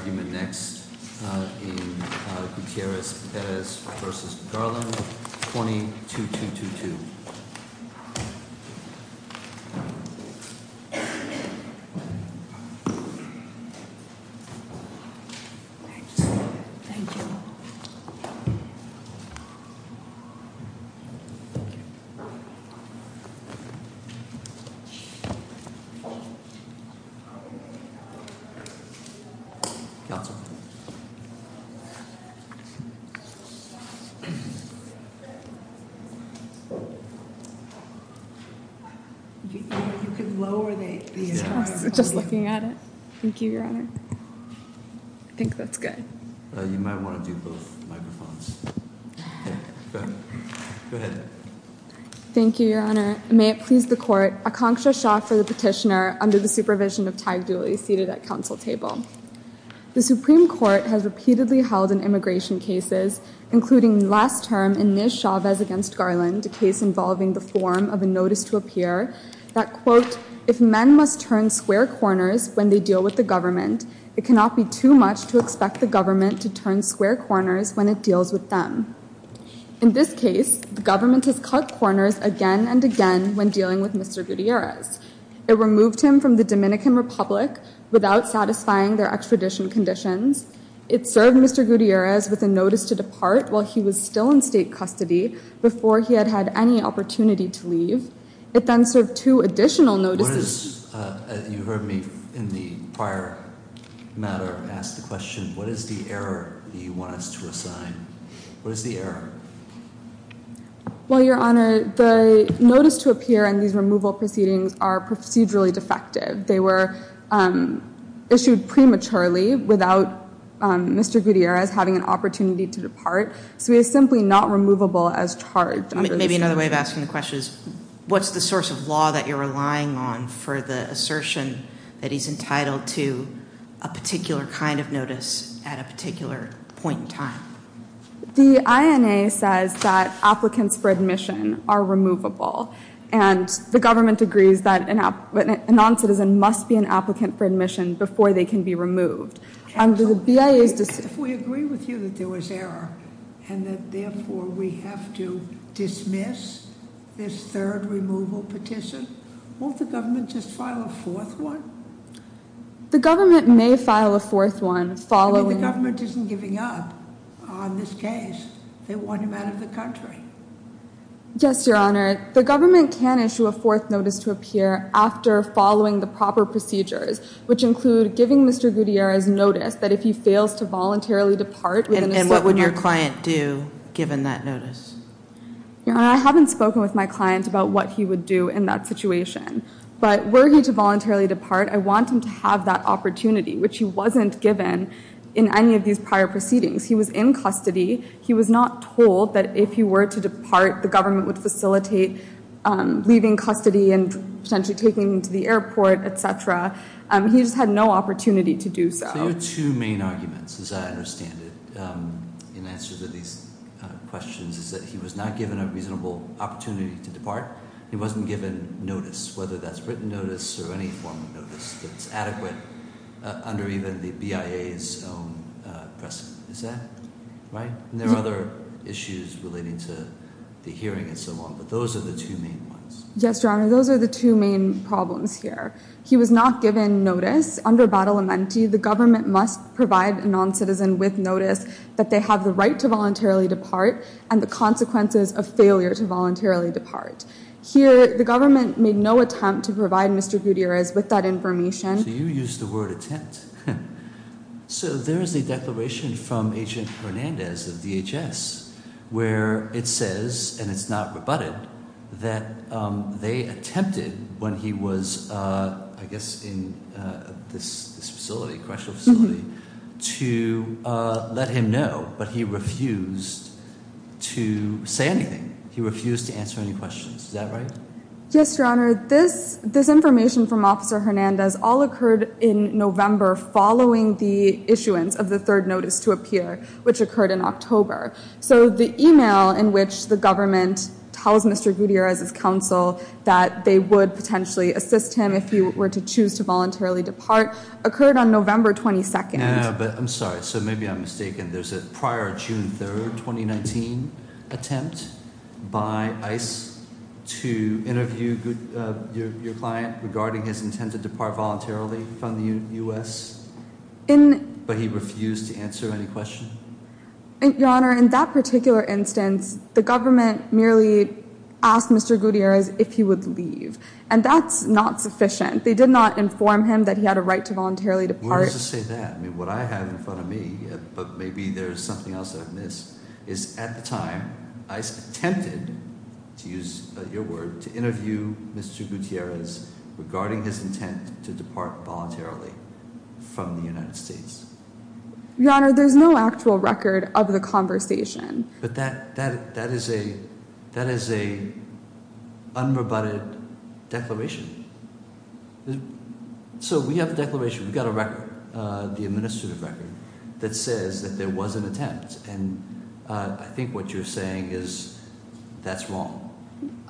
22222. Just looking at it. Thank you, Your Honor. I think that's good. You might want to do both microphones. Thank you, Your Honor. May it please the court. A concha shot for the petitioner under the supervision of tag duly seated at council table. The Supreme Court has repeatedly held an immigration cases, including last term in this Chavez against Garland, a case involving the form of a notice to appear that quote, If men must turn square corners when they deal with the government, it cannot be too much to expect the government to turn square corners when it deals with them. In this case, the government has cut corners again and again when dealing with Mr Gutierrez. It removed him from the Dominican Republic without satisfying their extradition conditions. It served Mr Gutierrez with a notice to depart while he was still in state custody before he had had any opportunity to leave. It then served two additional notices. You heard me in the prior matter. Ask the question, what is the error you want us to assign? What is the error? Well, Your Honor, the notice to appear in these removal proceedings are procedurally defective. They were issued prematurely without Mr Gutierrez having an opportunity to depart. So he is simply not removable as charged. Maybe another way of asking the question is, what's the source of law that you're relying on for the assertion that he's entitled to a particular kind of notice at a particular point in time? The INA says that applicants for admission are removable. And the government agrees that a non-citizen must be an applicant for admission before they can be removed. If we agree with you that there was error and that therefore we have to dismiss this third removal petition, won't the government just file a fourth one? The government may file a fourth one following- The government isn't giving up on this case. They want him out of the country. Yes, Your Honor. The government can issue a fourth notice to appear after following the proper procedures, which include giving Mr Gutierrez notice that if he fails to voluntarily depart- And what would your client do given that notice? Your Honor, I haven't spoken with my client about what he would do in that situation. But were he to voluntarily depart, I want him to have that opportunity, which he wasn't given in any of these prior proceedings. He was in custody. He was not told that if he were to depart, the government would facilitate leaving custody and potentially taking him to the airport, etc. He just had no opportunity to do so. There are two main arguments, as I understand it, in answer to these questions, is that he was not given a reasonable opportunity to depart. He wasn't given notice, whether that's written notice or any form of notice that's adequate under even the BIA's own precedent. Is that right? And there are other issues relating to the hearing and so on, but those are the two main ones. Yes, Your Honor. Those are the two main problems here. He was not given notice. Under Bada Lamenti, the government must provide a non-citizen with notice that they have the right to voluntarily depart and the consequences of failure to voluntarily depart. Here, the government made no attempt to provide Mr Gutierrez with that information. So you used the word attempt. So there is a declaration from Agent Hernandez of DHS where it says, and it's not rebutted, that they attempted when he was, I guess, in this facility, correctional facility, to let him know, but he refused to say anything. He refused to answer any questions. Is that right? Yes, Your Honor. This information from Officer Hernandez all occurred in November following the issuance of the third notice to appear, which occurred in October. So the email in which the government tells Mr Gutierrez's counsel that they would potentially assist him if he were to choose to voluntarily depart occurred on November 22nd. I'm sorry, so maybe I'm mistaken. There's a prior June 3rd, 2019 attempt by ICE to interview your client regarding his intent to depart voluntarily from the U.S.? But he refused to answer any questions? Your Honor, in that particular instance, the government merely asked Mr Gutierrez if he would leave, and that's not sufficient. They did not inform him that he had a right to voluntarily depart. Where does this say that? I mean, what I have in front of me, but maybe there's something else that I've missed, is at the time, ICE attempted, to use your word, to interview Mr Gutierrez regarding his intent to depart voluntarily from the United States. Your Honor, there's no actual record of the conversation. But that is a unrebutted declaration. So we have a declaration. We've got a record, the administrative record, that says that there was an attempt, and I think what you're saying is that's wrong.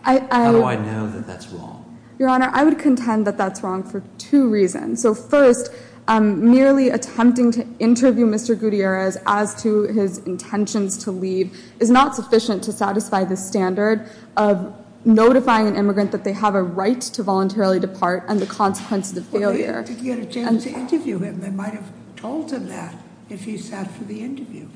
How do I know that that's wrong? Your Honor, I would contend that that's wrong for two reasons. So first, merely attempting to interview Mr Gutierrez as to his intentions to leave is not sufficient to satisfy the standard of notifying an immigrant that they have a right to voluntarily depart and the consequences of failure. Well, they didn't get a chance to interview him. They might have told him that if he sat for the interview.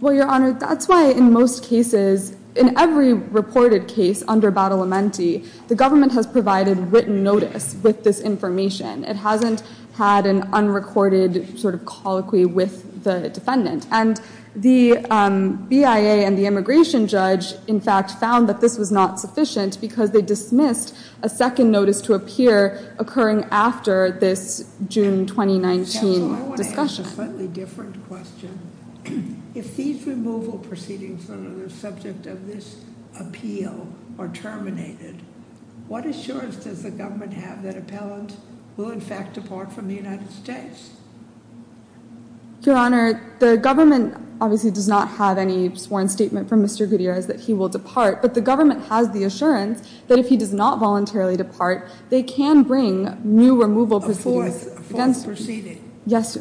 Well, Your Honor, that's why in most cases, in every reported case under Bada Lamenti, the government has provided written notice with this information. It hasn't had an unrecorded sort of colloquy with the defendant. And the BIA and the immigration judge in fact found that this was not sufficient because they dismissed a second notice to appear occurring after this June 2019 discussion. So I want to ask a slightly different question. If these removal proceedings that are the subject of this appeal are terminated, what assurance does the government have that appellants will in fact depart from the United States? Your Honor, the government obviously does not have any sworn statement from Mr Gutierrez that he will depart, but the government has the assurance that if he does not voluntarily depart, they can bring new removal proceedings. Yes.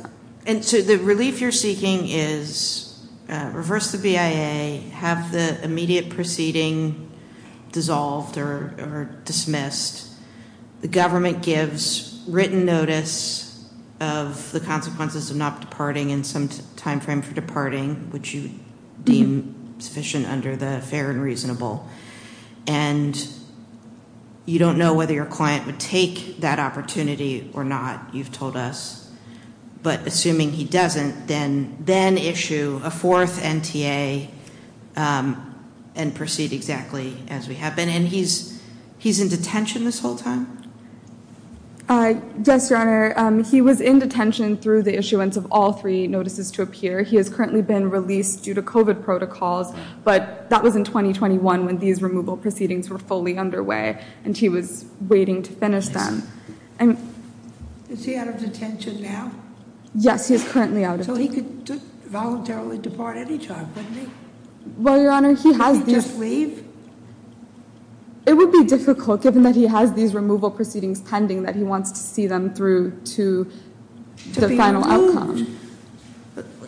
And so the relief you're seeking is reverse the BIA, have the immediate proceeding dissolved or dismissed. The government gives written notice of the consequences of not departing in some timeframe for departing, which you deem sufficient under the fair and reasonable. And you don't know whether your client would take that opportunity or not. You've told us. But assuming he doesn't, then then issue a fourth NTA and proceed exactly as we have been. And he's he's in detention this whole time. Yes, Your Honor. He was in detention through the issuance of all three notices to appear. He has currently been released due to COVID protocols, but that was in 2021 when these removal proceedings were fully underway and he was waiting to finish them. And is he out of detention now? Yes, he is currently out of detention. So he could voluntarily depart any time, couldn't he? Well, Your Honor, he has. Could he just leave? It would be difficult, given that he has these removal proceedings pending, that he wants to see them through to the final outcome.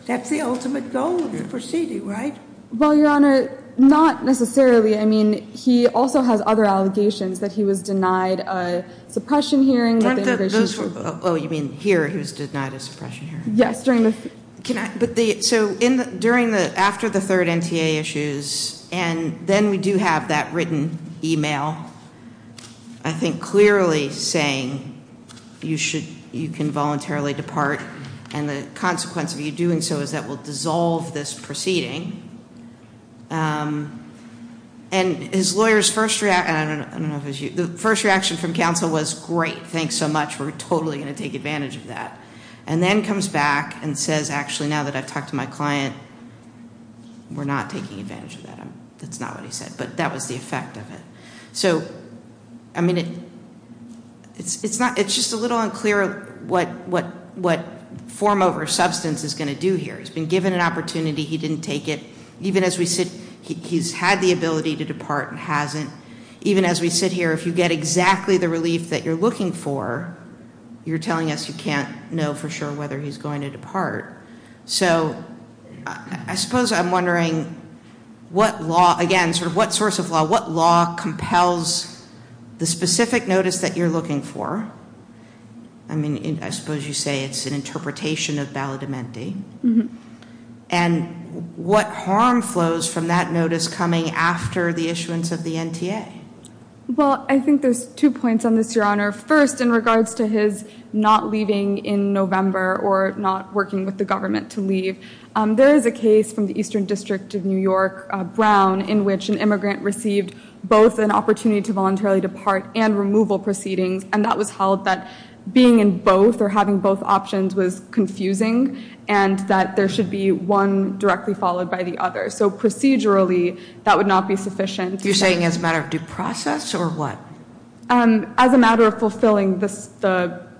That's the ultimate goal of the proceeding, right? Well, Your Honor, not necessarily. I mean, he also has other allegations that he was denied a suppression hearing. Oh, you mean here he was denied a suppression hearing? Yes. So during the after the third NTA issues, and then we do have that written email. I think clearly saying you should you can voluntarily depart. And the consequence of you doing so is that will dissolve this proceeding. And his lawyers first react. The first reaction from counsel was great. Thanks so much. We're totally going to take advantage of that. And then comes back and says, actually, now that I've talked to my client, we're not taking advantage of that. That's not what he said. But that was the effect of it. So, I mean, it's just a little unclear what form over substance is going to do here. He's been given an opportunity. He didn't take it. Even as we sit, he's had the ability to depart and hasn't. Even as we sit here, if you get exactly the relief that you're looking for, you're telling us you can't know for sure whether he's going to depart. So I suppose I'm wondering what law, again, sort of what source of law, what law compels the specific notice that you're looking for? I mean, I suppose you say it's an interpretation of valid amending. And what harm flows from that notice coming after the issuance of the NTA? Well, I think there's two points on this, Your Honor. First, in regards to his not leaving in November or not working with the government to leave, there is a case from the Eastern District of New York, Brown, in which an immigrant received both an opportunity to voluntarily depart and removal proceedings. And that was held that being in both or having both options was confusing. And that there should be one directly followed by the other. So procedurally, that would not be sufficient. You're saying as a matter of due process or what? As a matter of fulfilling the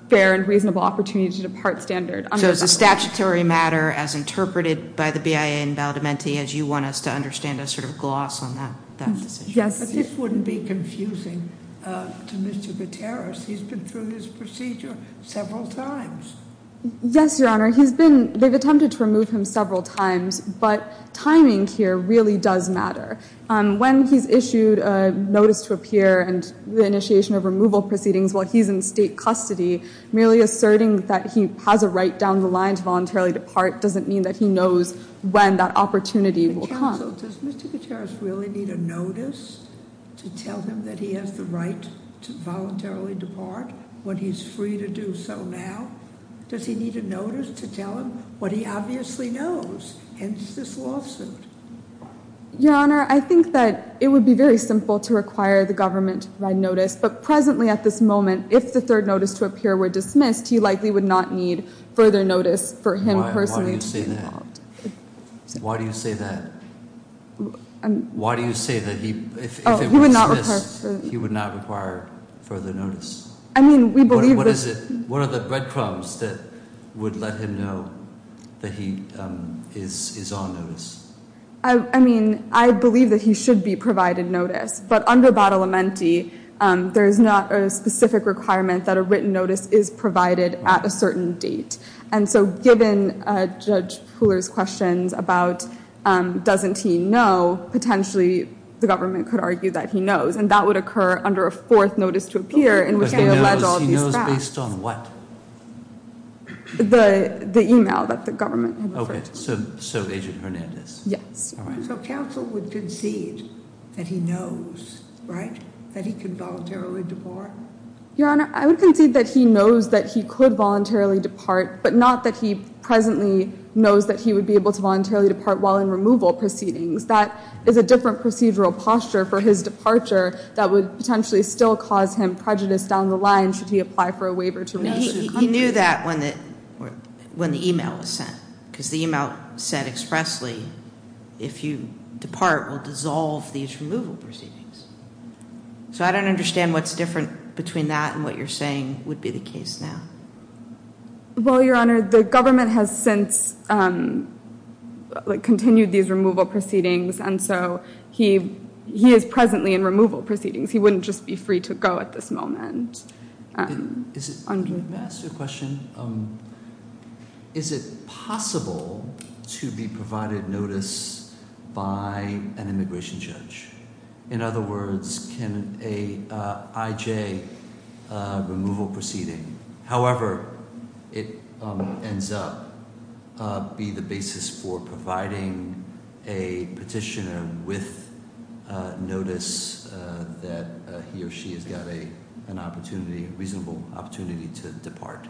fair and reasonable opportunity to depart standard. So it's a statutory matter as interpreted by the BIA in valid amending as you want us to understand a sort of gloss on that decision? Yes. But this wouldn't be confusing to Mr. Gutierrez. He's been through this procedure several times. Yes, Your Honor. They've attempted to remove him several times, but timing here really does matter. When he's issued a notice to appear and the initiation of removal proceedings while he's in state custody, merely asserting that he has a right down the line to voluntarily depart doesn't mean that he knows when that opportunity will come. So does Mr. Gutierrez really need a notice to tell him that he has the right to voluntarily depart when he's free to do so now? Does he need a notice to tell him what he obviously knows, hence this lawsuit? Your Honor, I think that it would be very simple to require the government to provide notice. But presently at this moment, if the third notice to appear were dismissed, he likely would not need further notice for him personally to be involved. Why do you say that? Why do you say that if it were dismissed, he would not require further notice? I mean, we believe that What are the breadcrumbs that would let him know that he is on notice? I mean, I believe that he should be provided notice. But under Bada Lamenti, there is not a specific requirement that a written notice is provided at a certain date. And so given Judge Pooler's questions about doesn't he know, potentially the government could argue that he knows. And that would occur under a fourth notice to appear in which they allege all of these facts. But he knows based on what? The email that the government had referred to. Okay, so Agent Hernandez. Yes. So counsel would concede that he knows, right, that he can voluntarily depart? Your Honor, I would concede that he knows that he could voluntarily depart. But not that he presently knows that he would be able to voluntarily depart while in removal proceedings. That is a different procedural posture for his departure that would potentially still cause him prejudice down the line should he apply for a waiver to another country. He knew that when the email was sent. Because the email said expressly, if you depart, we'll dissolve these removal proceedings. So I don't understand what's different between that and what you're saying would be the case now. Well, Your Honor, the government has since continued these removal proceedings. And so he is presently in removal proceedings. He wouldn't just be free to go at this moment. May I ask you a question? Is it possible to be provided notice by an immigration judge? In other words, can an IJ removal proceeding, however it ends up, be the basis for providing a petitioner with notice that he or she has got a reasonable opportunity to depart?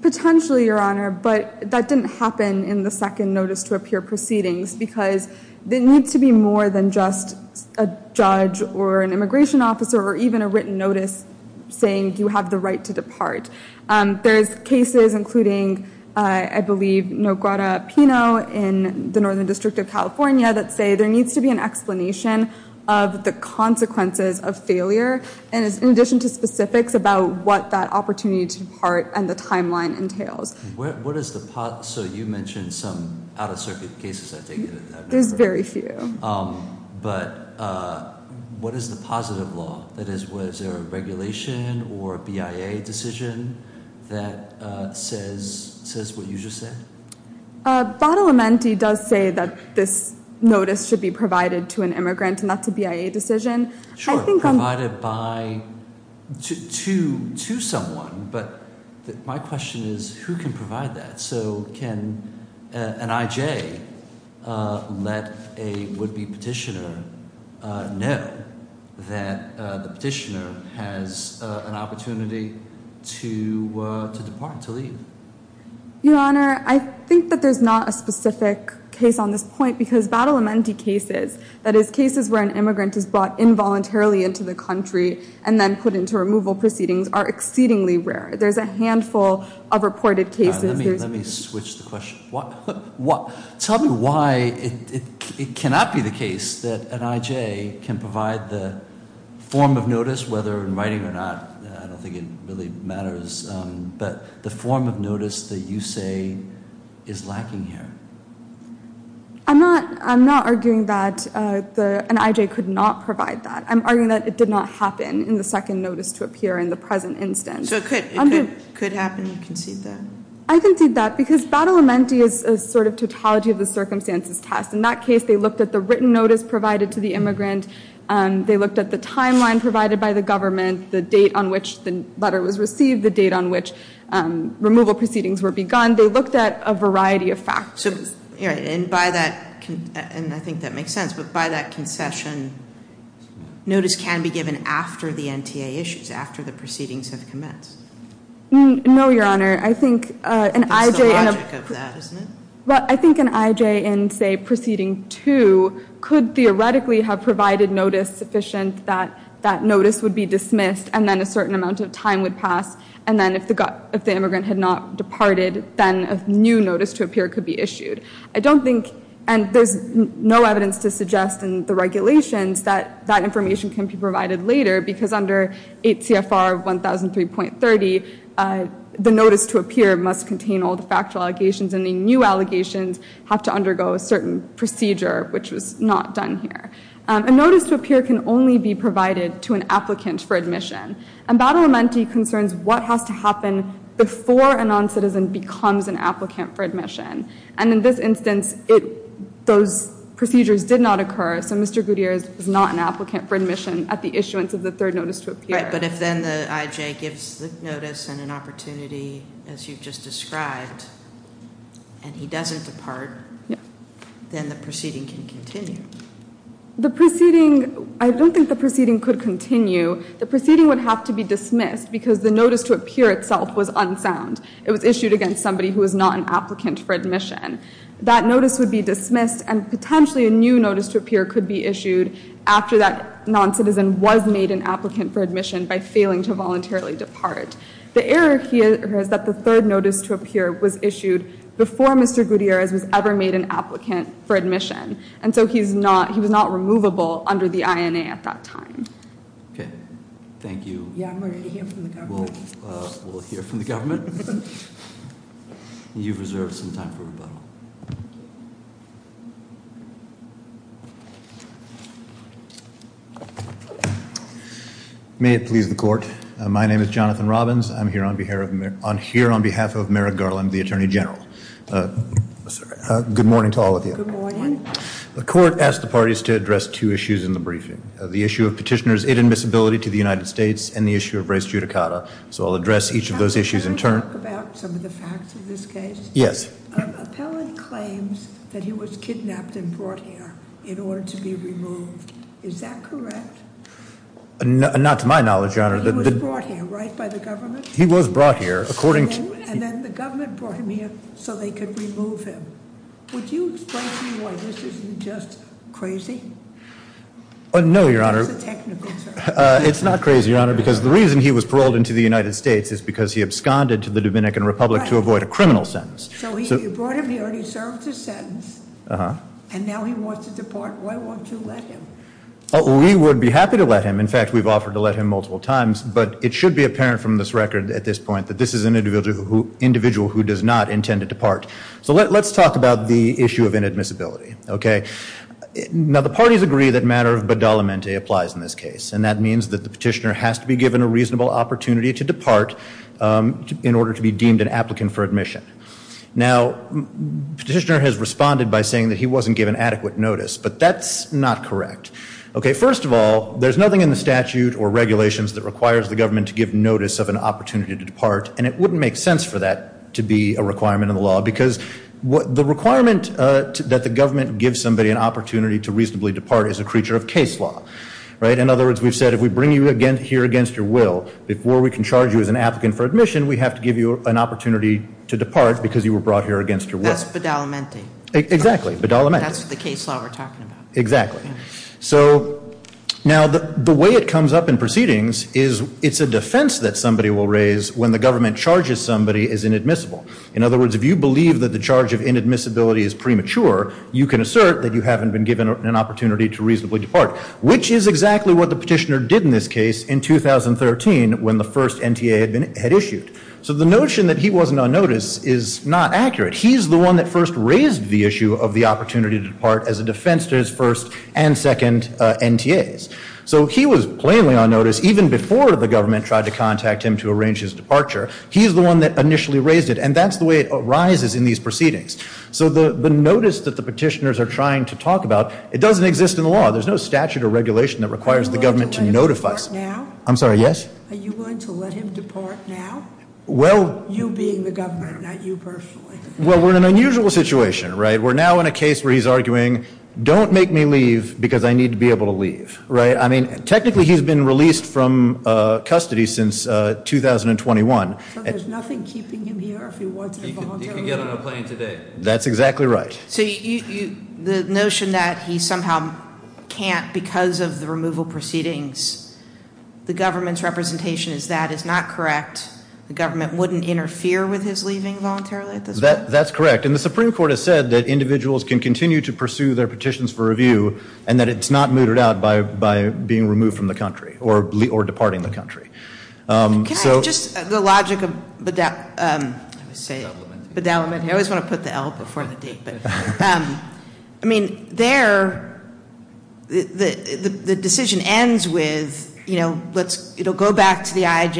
Potentially, Your Honor. But that didn't happen in the second notice to appear proceedings. Because there needs to be more than just a judge or an immigration officer or even a written notice saying you have the right to depart. There's cases including, I believe, Noguera Pino in the Northern District of California that say there needs to be an explanation of the consequences of failure. And in addition to specifics about what that opportunity to depart and the timeline entails. So you mentioned some out-of-circuit cases, I take it. There's very few. But what is the positive law? That is, was there a regulation or a BIA decision that says what you just said? Bada Lamenti does say that this notice should be provided to an immigrant, and that's a BIA decision. Sure, provided by – to someone. But my question is who can provide that? So can an IJ let a would-be petitioner know that the petitioner has an opportunity to depart, to leave? Your Honor, I think that there's not a specific case on this point. Because Bada Lamenti cases, that is, cases where an immigrant is brought involuntarily into the country and then put into removal proceedings, are exceedingly rare. There's a handful of reported cases. Let me switch the question. Tell me why it cannot be the case that an IJ can provide the form of notice, whether in writing or not. I don't think it really matters. But the form of notice that you say is lacking here. I'm not arguing that an IJ could not provide that. I'm arguing that it did not happen in the second notice to appear in the present instance. So it could happen, you concede that. I concede that, because Bada Lamenti is a sort of tautology of the circumstances test. In that case, they looked at the written notice provided to the immigrant. They looked at the timeline provided by the government, the date on which the letter was received, the date on which removal proceedings were begun. They looked at a variety of factors. And by that – and I think that makes sense – but by that concession, notice can be given after the NTA issues, after the proceedings have commenced. No, Your Honor. I think an IJ – That's the logic of that, isn't it? Well, I think an IJ in, say, proceeding two could theoretically have provided notice sufficient that that notice would be dismissed and then a certain amount of time would pass. And then if the immigrant had not departed, then a new notice to appear could be issued. I don't think – and there's no evidence to suggest in the regulations that that information can be provided later, because under 8 CFR 1003.30, the notice to appear must contain all the factual allegations, and the new allegations have to undergo a certain procedure, which was not done here. A notice to appear can only be provided to an applicant for admission. And Bada Lamenti concerns what has to happen before a noncitizen becomes an applicant for admission. And in this instance, those procedures did not occur, so Mr. Gutierrez is not an applicant for admission at the issuance of the third notice to appear. Right, but if then the IJ gives the notice and an opportunity, as you've just described, and he doesn't depart, then the proceeding can continue. The proceeding – I don't think the proceeding could continue. The proceeding would have to be dismissed, because the notice to appear itself was unsound. It was issued against somebody who was not an applicant for admission. That notice would be dismissed, and potentially a new notice to appear could be issued after that noncitizen was made an applicant for admission by failing to voluntarily depart. The error here is that the third notice to appear was issued before Mr. Gutierrez was ever made an applicant for admission. And so he's not – he was not removable under the INA at that time. Okay. Thank you. Yeah, I'm ready to hear from the government. We'll hear from the government. You've reserved some time for rebuttal. May it please the court. My name is Jonathan Robbins. I'm here on behalf of Merrick Garland, the Attorney General. Good morning to all of you. Good morning. The court asked the parties to address two issues in the briefing. The issue of petitioner's inadmissibility to the United States and the issue of res judicata. So I'll address each of those issues in turn. Can I talk about some of the facts of this case? Yes. Appellant claims that he was kidnapped and brought here in order to be removed. Is that correct? Not to my knowledge, Your Honor. He was brought here, right, by the government? He was brought here. And then the government brought him here so they could remove him. Would you explain to me why this isn't just crazy? No, Your Honor. It's a technical term. It's not crazy, Your Honor, because the reason he was paroled into the United States is because he absconded to the Dominican Republic to avoid a criminal sentence. So you brought him here and he served his sentence, and now he wants to depart. Why won't you let him? We would be happy to let him. In fact, we've offered to let him multiple times, but it should be apparent from this record at this point that this is an individual who does not intend to depart. So let's talk about the issue of inadmissibility. Okay? Now, the parties agree that matter of badalamente applies in this case, and that means that the petitioner has to be given a reasonable opportunity to depart in order to be deemed an applicant for admission. Now, the petitioner has responded by saying that he wasn't given adequate notice, but that's not correct. Okay, first of all, there's nothing in the statute or regulations that requires the government to give notice of an opportunity to depart, and it wouldn't make sense for that to be a requirement of the law because the requirement that the government give somebody an opportunity to reasonably depart is a creature of case law, right? In other words, we've said if we bring you here against your will, before we can charge you as an applicant for admission, we have to give you an opportunity to depart because you were brought here against your will. That's badalamente. Exactly, badalamente. That's the case law we're talking about. Exactly. So now the way it comes up in proceedings is it's a defense that somebody will raise when the government charges somebody as inadmissible. In other words, if you believe that the charge of inadmissibility is premature, you can assert that you haven't been given an opportunity to reasonably depart, which is exactly what the petitioner did in this case in 2013 when the first NTA had issued. So the notion that he wasn't on notice is not accurate. He's the one that first raised the issue of the opportunity to depart as a defense to his first and second NTAs. So he was plainly on notice even before the government tried to contact him to arrange his departure. He's the one that initially raised it, and that's the way it arises in these proceedings. So the notice that the petitioners are trying to talk about, it doesn't exist in the law. There's no statute or regulation that requires the government to notify us. Are you going to let him depart now? I'm sorry, yes? Are you going to let him depart now, you being the government, not you personally? Well, we're in an unusual situation, right? We're now in a case where he's arguing, don't make me leave because I need to be able to leave, right? I mean, technically he's been released from custody since 2021. So there's nothing keeping him here if he wanted to voluntarily leave? He could get on a plane today. That's exactly right. So the notion that he somehow can't because of the removal proceedings, the government's representation is that is not correct. The government wouldn't interfere with his leaving voluntarily at this point? That's correct. And the Supreme Court has said that individuals can continue to pursue their petitions for review and that it's not mooted out by being removed from the country or departing the country. Can I add just the logic of bedeliment? I always want to put the L before the D. I mean, there, the decision ends with, you know, it'll go back to the IJ,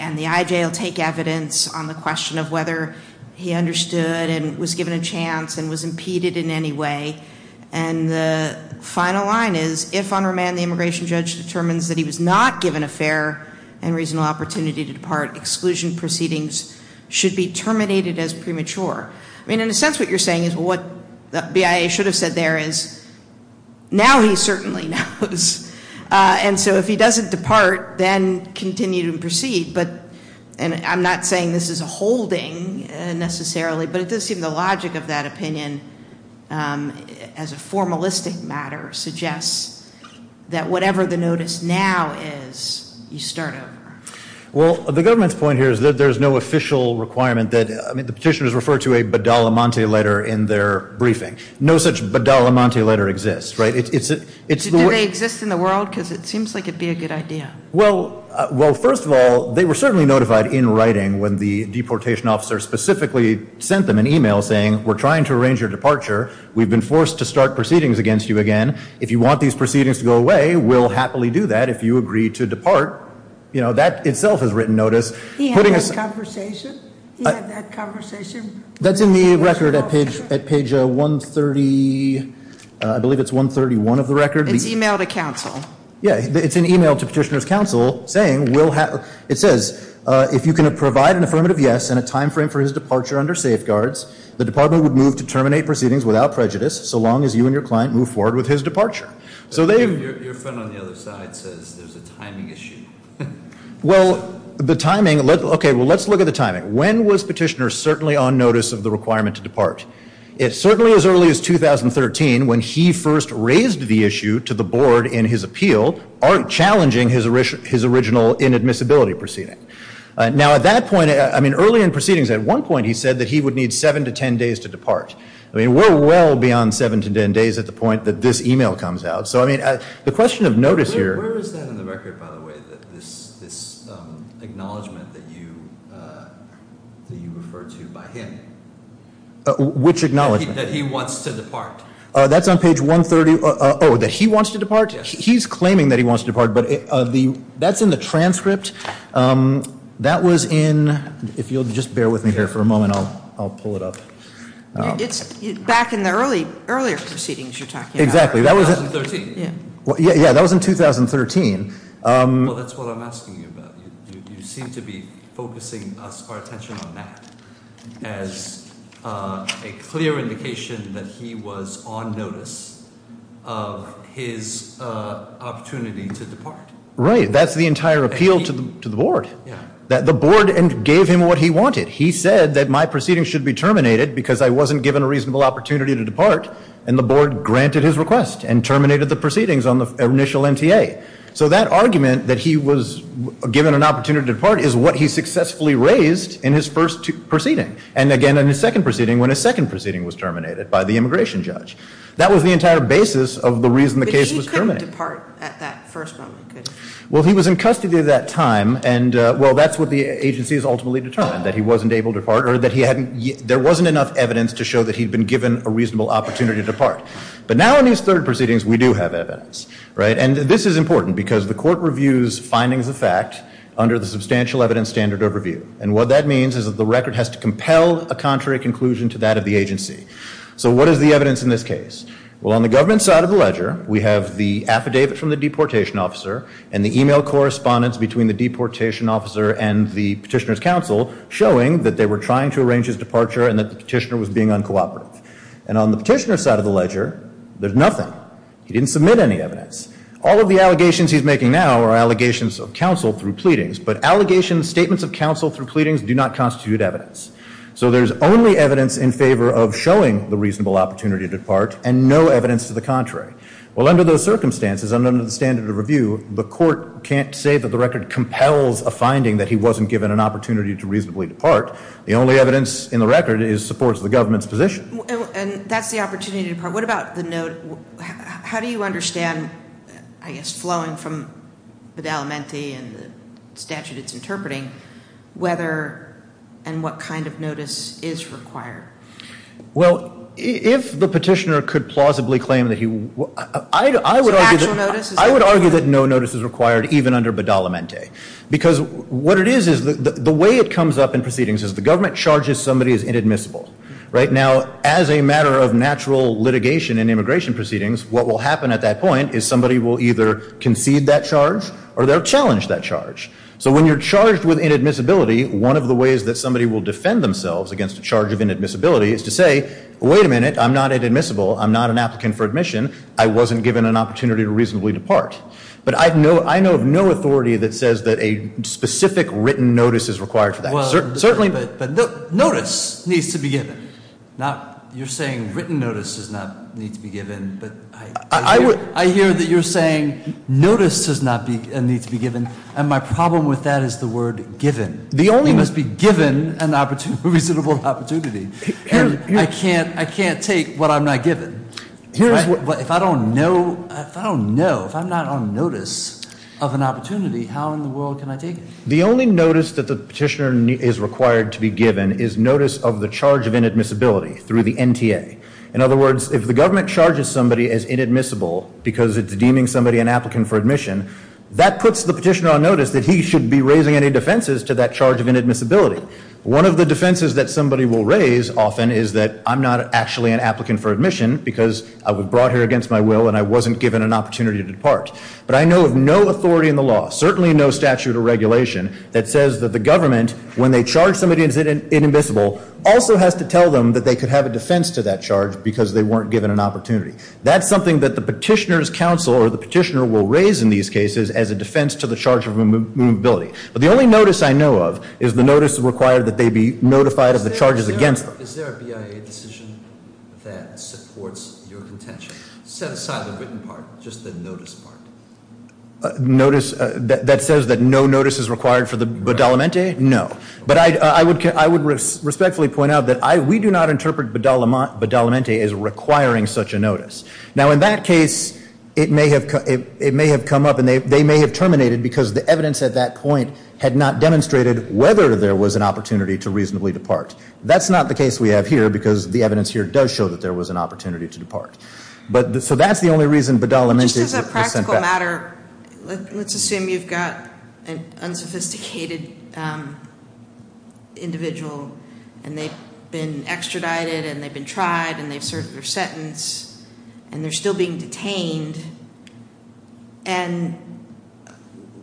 and the IJ will take evidence on the question of whether he understood and was given a chance and was impeded in any way. And the final line is if on remand the immigration judge determines that he was not given a fair and reasonable opportunity to depart, exclusion proceedings should be terminated as premature. I mean, in a sense what you're saying is what the BIA should have said there is now he certainly knows. And so if he doesn't depart, then continue to proceed. But I'm not saying this is a holding necessarily, but it does seem the logic of that opinion as a formalistic matter suggests that whatever the notice now is, you start over. Well, the government's point here is that there's no official requirement that, I mean, the petitioners refer to a bedelimente letter in their briefing. No such bedelimente letter exists, right? Do they exist in the world? Because it seems like it would be a good idea. Well, first of all, they were certainly notified in writing when the deportation officer specifically sent them an e-mail saying we're trying to arrange your departure. We've been forced to start proceedings against you again. If you want these proceedings to go away, we'll happily do that if you agree to depart. You know, that itself is written notice. He had that conversation? He had that conversation? That's in the record at page 130, I believe it's 131 of the record. It's e-mailed to counsel. Yeah, it's an e-mail to petitioner's counsel saying we'll have, it says if you can provide an affirmative yes and a time frame for his departure under safeguards, the department would move to terminate proceedings without prejudice so long as you and your client move forward with his departure. Your friend on the other side says there's a timing issue. Well, the timing, okay, well, let's look at the timing. When was petitioner certainly on notice of the requirement to depart? It's certainly as early as 2013 when he first raised the issue to the board in his appeal, aren't challenging his original inadmissibility proceeding. Now, at that point, I mean, early in proceedings, at one point he said that he would need seven to ten days to depart. I mean, we're well beyond seven to ten days at the point that this e-mail comes out. So, I mean, the question of notice here. Where is that in the record, by the way, this acknowledgement that you referred to by him? Which acknowledgement? That he wants to depart. That's on page 130. Oh, that he wants to depart? He's claiming that he wants to depart, but that's in the transcript. That was in, if you'll just bear with me here for a moment, I'll pull it up. It's back in the earlier proceedings you're talking about. Exactly. That was in 2013. Yeah, that was in 2013. Well, that's what I'm asking you about. You seem to be focusing our attention on that as a clear indication that he was on notice of his opportunity to depart. Right. That's the entire appeal to the board. The board gave him what he wanted. He said that my proceedings should be terminated because I wasn't given a reasonable opportunity to depart, and the board granted his request and terminated the proceedings on the initial NTA. So that argument that he was given an opportunity to depart is what he successfully raised in his first proceeding, and again in his second proceeding when his second proceeding was terminated by the immigration judge. That was the entire basis of the reason the case was terminated. But he couldn't depart at that first moment, could he? Well, he was in custody at that time, and, well, that's what the agency has ultimately determined, that he wasn't able to depart or that there wasn't enough evidence to show that he'd been given a reasonable opportunity to depart. But now in his third proceedings, we do have evidence, right? And this is important because the court reviews findings of fact under the substantial evidence standard of review, and what that means is that the record has to compel a contrary conclusion to that of the agency. So what is the evidence in this case? Well, on the government side of the ledger, we have the affidavit from the deportation officer and the e-mail correspondence between the deportation officer and the petitioner's counsel showing that they were trying to arrange his departure and that the petitioner was being uncooperative. And on the petitioner's side of the ledger, there's nothing. He didn't submit any evidence. All of the allegations he's making now are allegations of counsel through pleadings, but allegations, statements of counsel through pleadings do not constitute evidence. So there's only evidence in favor of showing the reasonable opportunity to depart and no evidence to the contrary. Well, under those circumstances, under the standard of review, the court can't say that the record compels a finding that he wasn't given an opportunity to reasonably depart. The only evidence in the record supports the government's position. And that's the opportunity to depart. What about the note? How do you understand, I guess flowing from Badalamenti and the statute it's interpreting, whether and what kind of notice is required? Well, if the petitioner could plausibly claim that he was ‑‑ So actual notice is required? I would argue that no notice is required, even under Badalamenti, because what it is is the way it comes up in proceedings is the government charges somebody as inadmissible. Right? Now, as a matter of natural litigation in immigration proceedings, what will happen at that point is somebody will either concede that charge or they'll challenge that charge. So when you're charged with inadmissibility, one of the ways that somebody will defend themselves against a charge of inadmissibility is to say, wait a minute, I'm not inadmissible, I'm not an applicant for admission, I wasn't given an opportunity to reasonably depart. But I know of no authority that says that a specific written notice is required for that. Certainly. But notice needs to be given. Now, you're saying written notice does not need to be given, but I hear that you're saying notice does not need to be given, and my problem with that is the word given. It must be given a reasonable opportunity. And I can't take what I'm not given. If I don't know, if I'm not on notice of an opportunity, how in the world can I take it? The only notice that the petitioner is required to be given is notice of the charge of inadmissibility through the NTA. In other words, if the government charges somebody as inadmissible because it's deeming somebody an applicant for admission, that puts the petitioner on notice that he should be raising any defenses to that charge of inadmissibility. One of the defenses that somebody will raise often is that I'm not actually an applicant for admission because I was brought here against my will and I wasn't given an opportunity to depart. But I know of no authority in the law, certainly no statute or regulation, that says that the government, when they charge somebody as inadmissible, also has to tell them that they could have a defense to that charge because they weren't given an opportunity. That's something that the petitioner's counsel or the petitioner will raise in these cases as a defense to the charge of inadmissibility. But the only notice I know of is the notice required that they be notified of the charges against them. Is there a BIA decision that supports your contention? Set aside the written part, just the notice part. Notice that says that no notice is required for the badalamente? No. But I would respectfully point out that we do not interpret badalamente as requiring such a notice. Now, in that case, it may have come up and they may have terminated because the evidence at that point had not demonstrated whether there was an opportunity to reasonably depart. That's not the case we have here because the evidence here does show that there was an opportunity to depart. So that's the only reason badalamente is sent back. Just as a practical matter, let's assume you've got an unsophisticated individual and they've been extradited and they've been tried and they've served their sentence and they're still being detained. And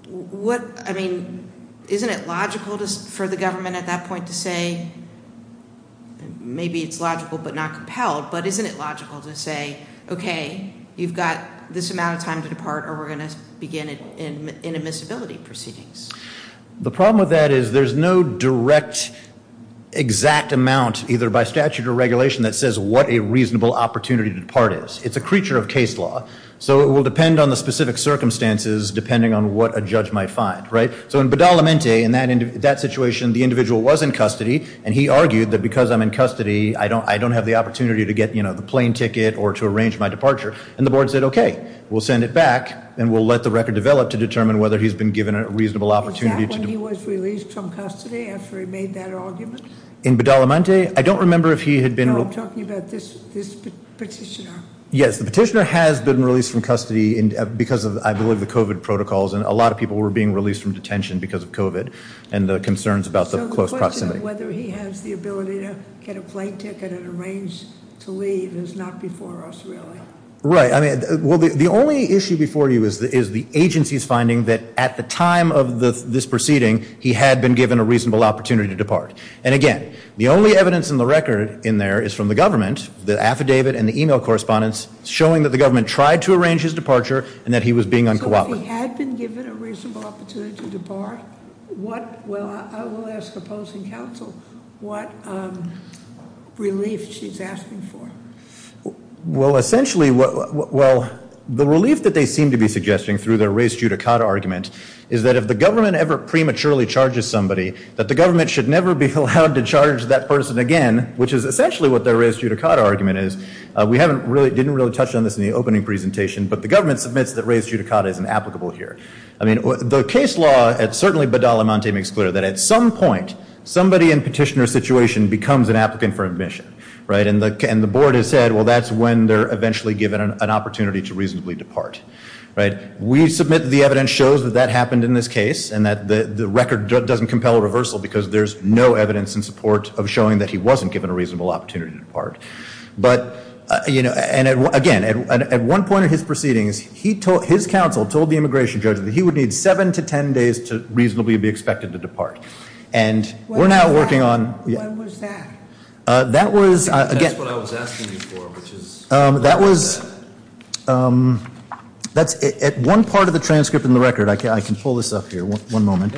isn't it logical for the government at that point to say, maybe it's logical but not compelled, but isn't it logical to say, okay, you've got this amount of time to depart or we're going to begin in admissibility proceedings? The problem with that is there's no direct exact amount either by statute or regulation that says what a reasonable opportunity to depart is. It's a creature of case law, so it will depend on the specific circumstances depending on what a judge might find. So in badalamente, in that situation, the individual was in custody and he argued that because I'm in custody, I don't have the opportunity to get the plane ticket or to arrange my departure. And the board said, okay, we'll send it back and we'll let the record develop to determine whether he's been given a reasonable opportunity to depart. Was that when he was released from custody after he made that argument? In badalamente, I don't remember if he had been- No, I'm talking about this petitioner. Yes, the petitioner has been released from custody because of, I believe, the COVID protocols. And a lot of people were being released from detention because of COVID and the concerns about the close proximity. So the question of whether he has the ability to get a plane ticket and arrange to leave is not before us, really. Right. Well, the only issue before you is the agency's finding that at the time of this proceeding, he had been given a reasonable opportunity to depart. And again, the only evidence in the record in there is from the government, the affidavit and the email correspondence, showing that the government tried to arrange his departure and that he was being uncooperative. So if he had been given a reasonable opportunity to depart, what- Well, I will ask the opposing counsel what relief she's asking for. Well, essentially, well, the relief that they seem to be suggesting through their race judicata argument is that if the government ever prematurely charges somebody, that the government should never be allowed to charge that person again, which is essentially what their race judicata argument is. We haven't really- didn't really touch on this in the opening presentation, but the government submits that race judicata is inapplicable here. I mean, the case law at certainly Badalamonte makes clear that at some point, somebody in petitioner situation becomes an applicant for admission. Right. And the board has said, well, that's when they're eventually given an opportunity to reasonably depart. Right. We submit the evidence shows that that happened in this case and that the record doesn't compel a reversal because there's no evidence in support of showing that he wasn't given a reasonable opportunity to depart. But, you know, and again, at one point in his proceedings, he told- his counsel told the immigration judge that he would need seven to ten days to reasonably be expected to depart. And we're now working on- When was that? That was- That's what I was asking you for, which is- That was- that's at one part of the transcript in the record. I can pull this up here. One moment.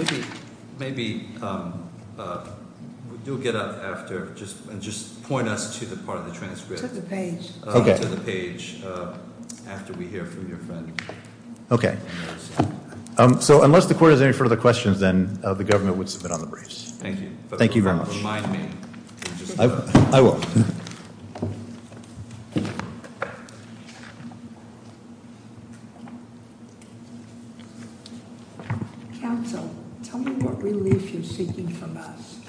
Maybe we do get up after and just point us to the part of the transcript. To the page. To the page after we hear from your friend. Okay. So unless the court has any further questions, then the government would submit on the briefs. Thank you. Thank you very much. I will. Counsel, tell me what relief you're seeking from us.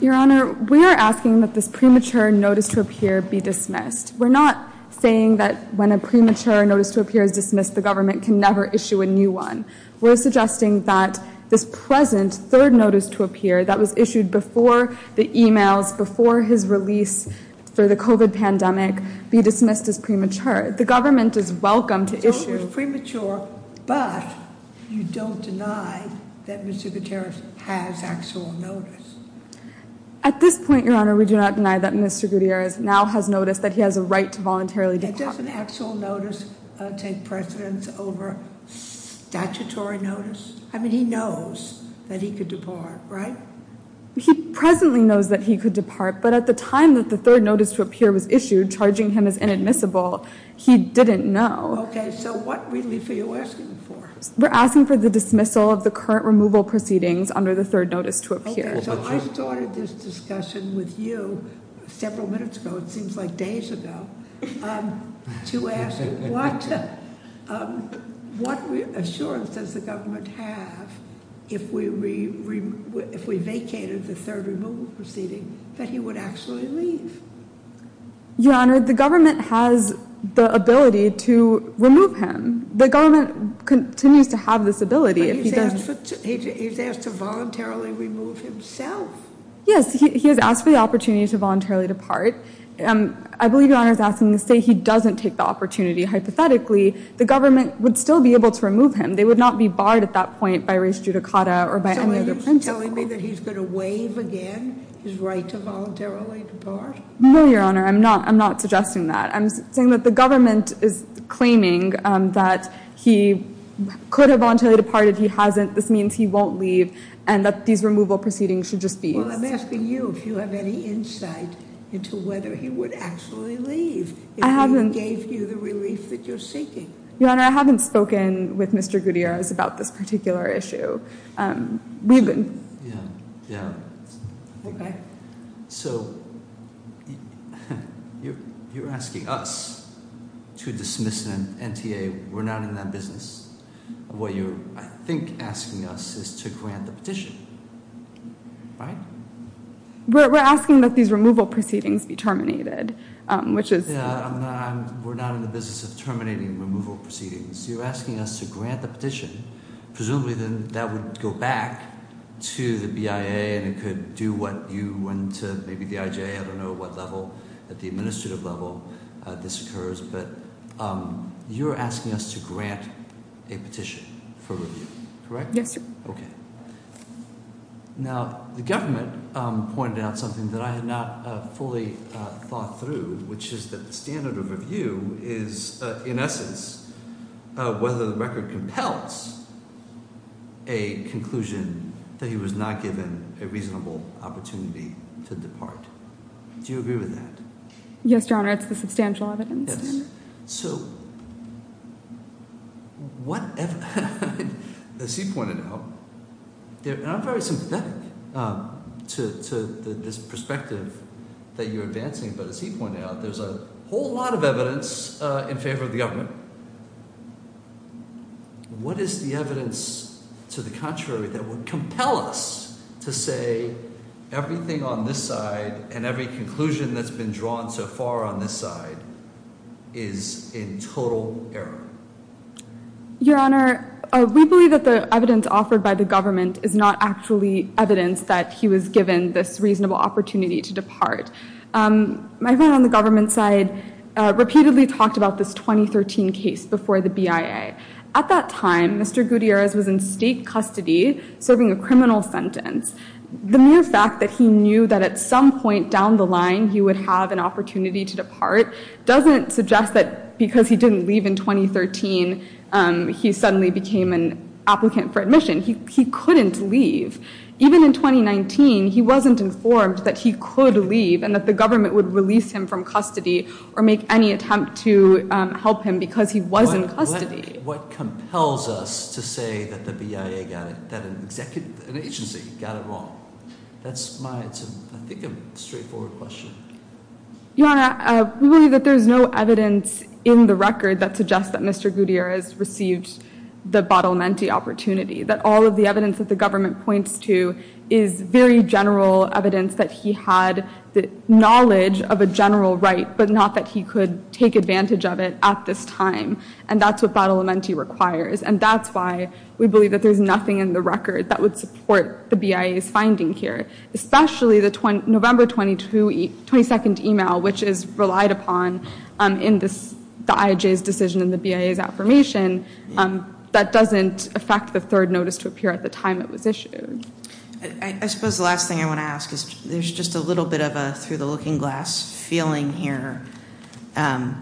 Your Honor, we are asking that this premature notice to appear be dismissed. We're not saying that when a premature notice to appear is dismissed, the government can never issue a new one. We're suggesting that this present third notice to appear that was issued before the emails, before his release for the COVID pandemic, be dismissed as premature. The government is welcome to issue- So it was premature, but you don't deny that Mr. Gutierrez has actual notice. At this point, Your Honor, we do not deny that Mr. Gutierrez now has notice that he has a right to voluntarily depart. Okay, does an actual notice take precedence over statutory notice? I mean, he knows that he could depart, right? He presently knows that he could depart, but at the time that the third notice to appear was issued, charging him as inadmissible, he didn't know. Okay, so what relief are you asking for? We're asking for the dismissal of the current removal proceedings under the third notice to appear. Okay, so I started this discussion with you several minutes ago, it seems like days ago, to ask what assurance does the government have if we vacated the third removal proceeding that he would actually leave? Your Honor, the government has the ability to remove him. The government continues to have this ability. But he's asked to voluntarily remove himself. Yes, he has asked for the opportunity to voluntarily depart. I believe Your Honor is asking to say he doesn't take the opportunity. Hypothetically, the government would still be able to remove him. They would not be barred at that point by res judicata or by any other principle. So are you telling me that he's going to waive again his right to voluntarily depart? No, Your Honor, I'm not suggesting that. I'm saying that the government is claiming that he could have voluntarily departed, he hasn't. This means he won't leave and that these removal proceedings should just be used. Well, I'm asking you if you have any insight into whether he would actually leave. I haven't. If he gave you the relief that you're seeking. Your Honor, I haven't spoken with Mr. Gutierrez about this particular issue. Yeah, yeah. Okay. So you're asking us to dismiss the NTA. We're not in that business. What you're, I think, asking us is to grant the petition, right? We're asking that these removal proceedings be terminated, which is... Yeah, we're not in the business of terminating removal proceedings. You're asking us to grant the petition. Presumably then that would go back to the BIA and it could do what you went to, maybe the IJA. I don't know at what level, at the administrative level, this occurs. But you're asking us to grant a petition for review, correct? Yes, Your Honor. Okay. Now, the government pointed out something that I had not fully thought through, which is that the standard of review is, in essence, whether the record compels a conclusion that he was not given a reasonable opportunity to depart. Do you agree with that? Yes, Your Honor. Yes. As he pointed out, and I'm very sympathetic to this perspective that you're advancing, but as he pointed out, there's a whole lot of evidence in favor of the government. What is the evidence to the contrary that would compel us to say everything on this side and every conclusion that's been drawn so far on this side is in total error? Your Honor, we believe that the evidence offered by the government is not actually evidence that he was given this reasonable opportunity to depart. My friend on the government side repeatedly talked about this 2013 case before the BIA. At that time, Mr. Gutierrez was in state custody serving a criminal sentence. The mere fact that he knew that at some point down the line he would have an opportunity to depart doesn't suggest that because he didn't leave in 2013, he suddenly became an applicant for admission. He couldn't leave. Even in 2019, he wasn't informed that he could leave and that the government would release him from custody or make any attempt to help him because he was in custody. What compels us to say that the BIA got it, that an agency got it wrong? That's my, I think, a straightforward question. Your Honor, we believe that there's no evidence in the record that suggests that Mr. Gutierrez received the badalamenti opportunity. That all of the evidence that the government points to is very general evidence that he had the knowledge of a general right, but not that he could take advantage of it at this time. And that's what badalamenti requires. And that's why we believe that there's nothing in the record that would support the BIA's finding here, especially the November 22 email, which is relied upon in the IJ's decision and the BIA's affirmation. That doesn't affect the third notice to appear at the time it was issued. I suppose the last thing I want to ask is there's just a little bit of a through the looking glass feeling here. I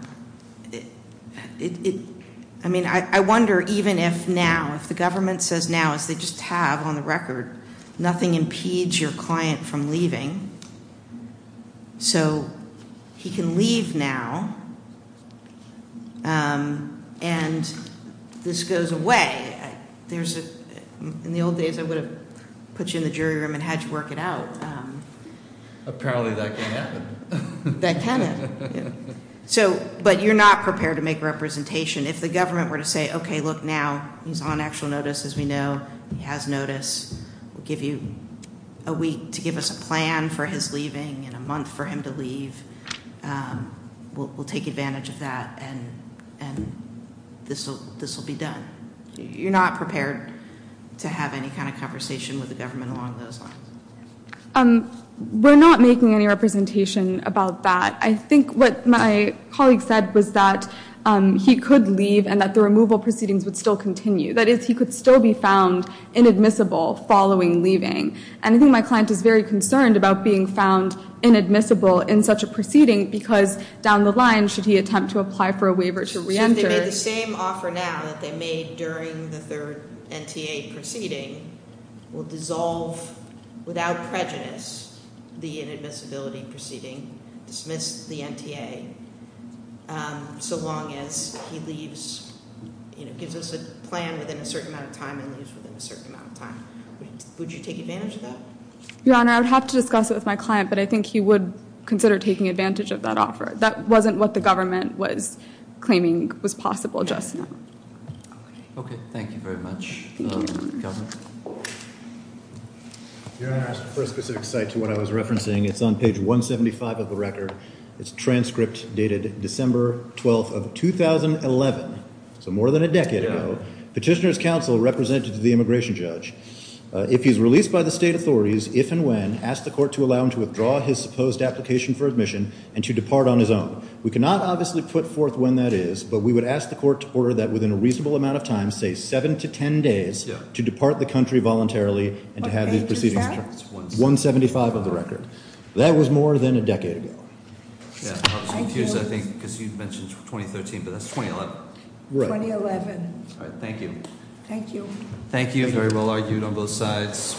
mean, I wonder even if now, if the government says now, as they just have on the record, nothing impedes your client from leaving, so he can leave now. And this goes away. In the old days, I would have put you in the jury room and had you work it out. Apparently, that can happen. But you're not prepared to make representation. If the government were to say, okay, look, now he's on actual notice, as we know. He has notice. We'll give you a week to give us a plan for his leaving and a month for him to leave. We'll take advantage of that, and this will be done. You're not prepared to have any kind of conversation with the government along those lines. We're not making any representation about that. I think what my colleague said was that he could leave and that the removal proceedings would still continue. That is, he could still be found inadmissible following leaving. And I think my client is very concerned about being found inadmissible in such a proceeding because down the line, should he attempt to apply for a waiver to reenter. If they made the same offer now that they made during the third NTA proceeding, will dissolve without prejudice the inadmissibility proceeding, dismiss the NTA, so long as he leaves, gives us a plan within a certain amount of time and leaves within a certain amount of time. Would you take advantage of that? Your Honor, I would have to discuss it with my client, but I think he would consider taking advantage of that offer. That wasn't what the government was claiming was possible just now. Okay. Thank you very much, Governor. Your Honor, as per a specific site to what I was referencing, it's on page 175 of the record. It's a transcript dated December 12th of 2011, so more than a decade ago. Petitioner's counsel represented the immigration judge. If he's released by the state authorities, if and when, ask the court to allow him to withdraw his supposed application for admission and to depart on his own. We cannot obviously put forth when that is, but we would ask the court to order that within a reasonable amount of time, say seven to ten days, to depart the country voluntarily and to have these proceedings- What page is that? 175 of the record. That was more than a decade ago. I was confused, I think, because you mentioned 2013, but that's 2011. Right. 2011. All right. Thank you. Thank you. Thank you. Very well argued on both sides.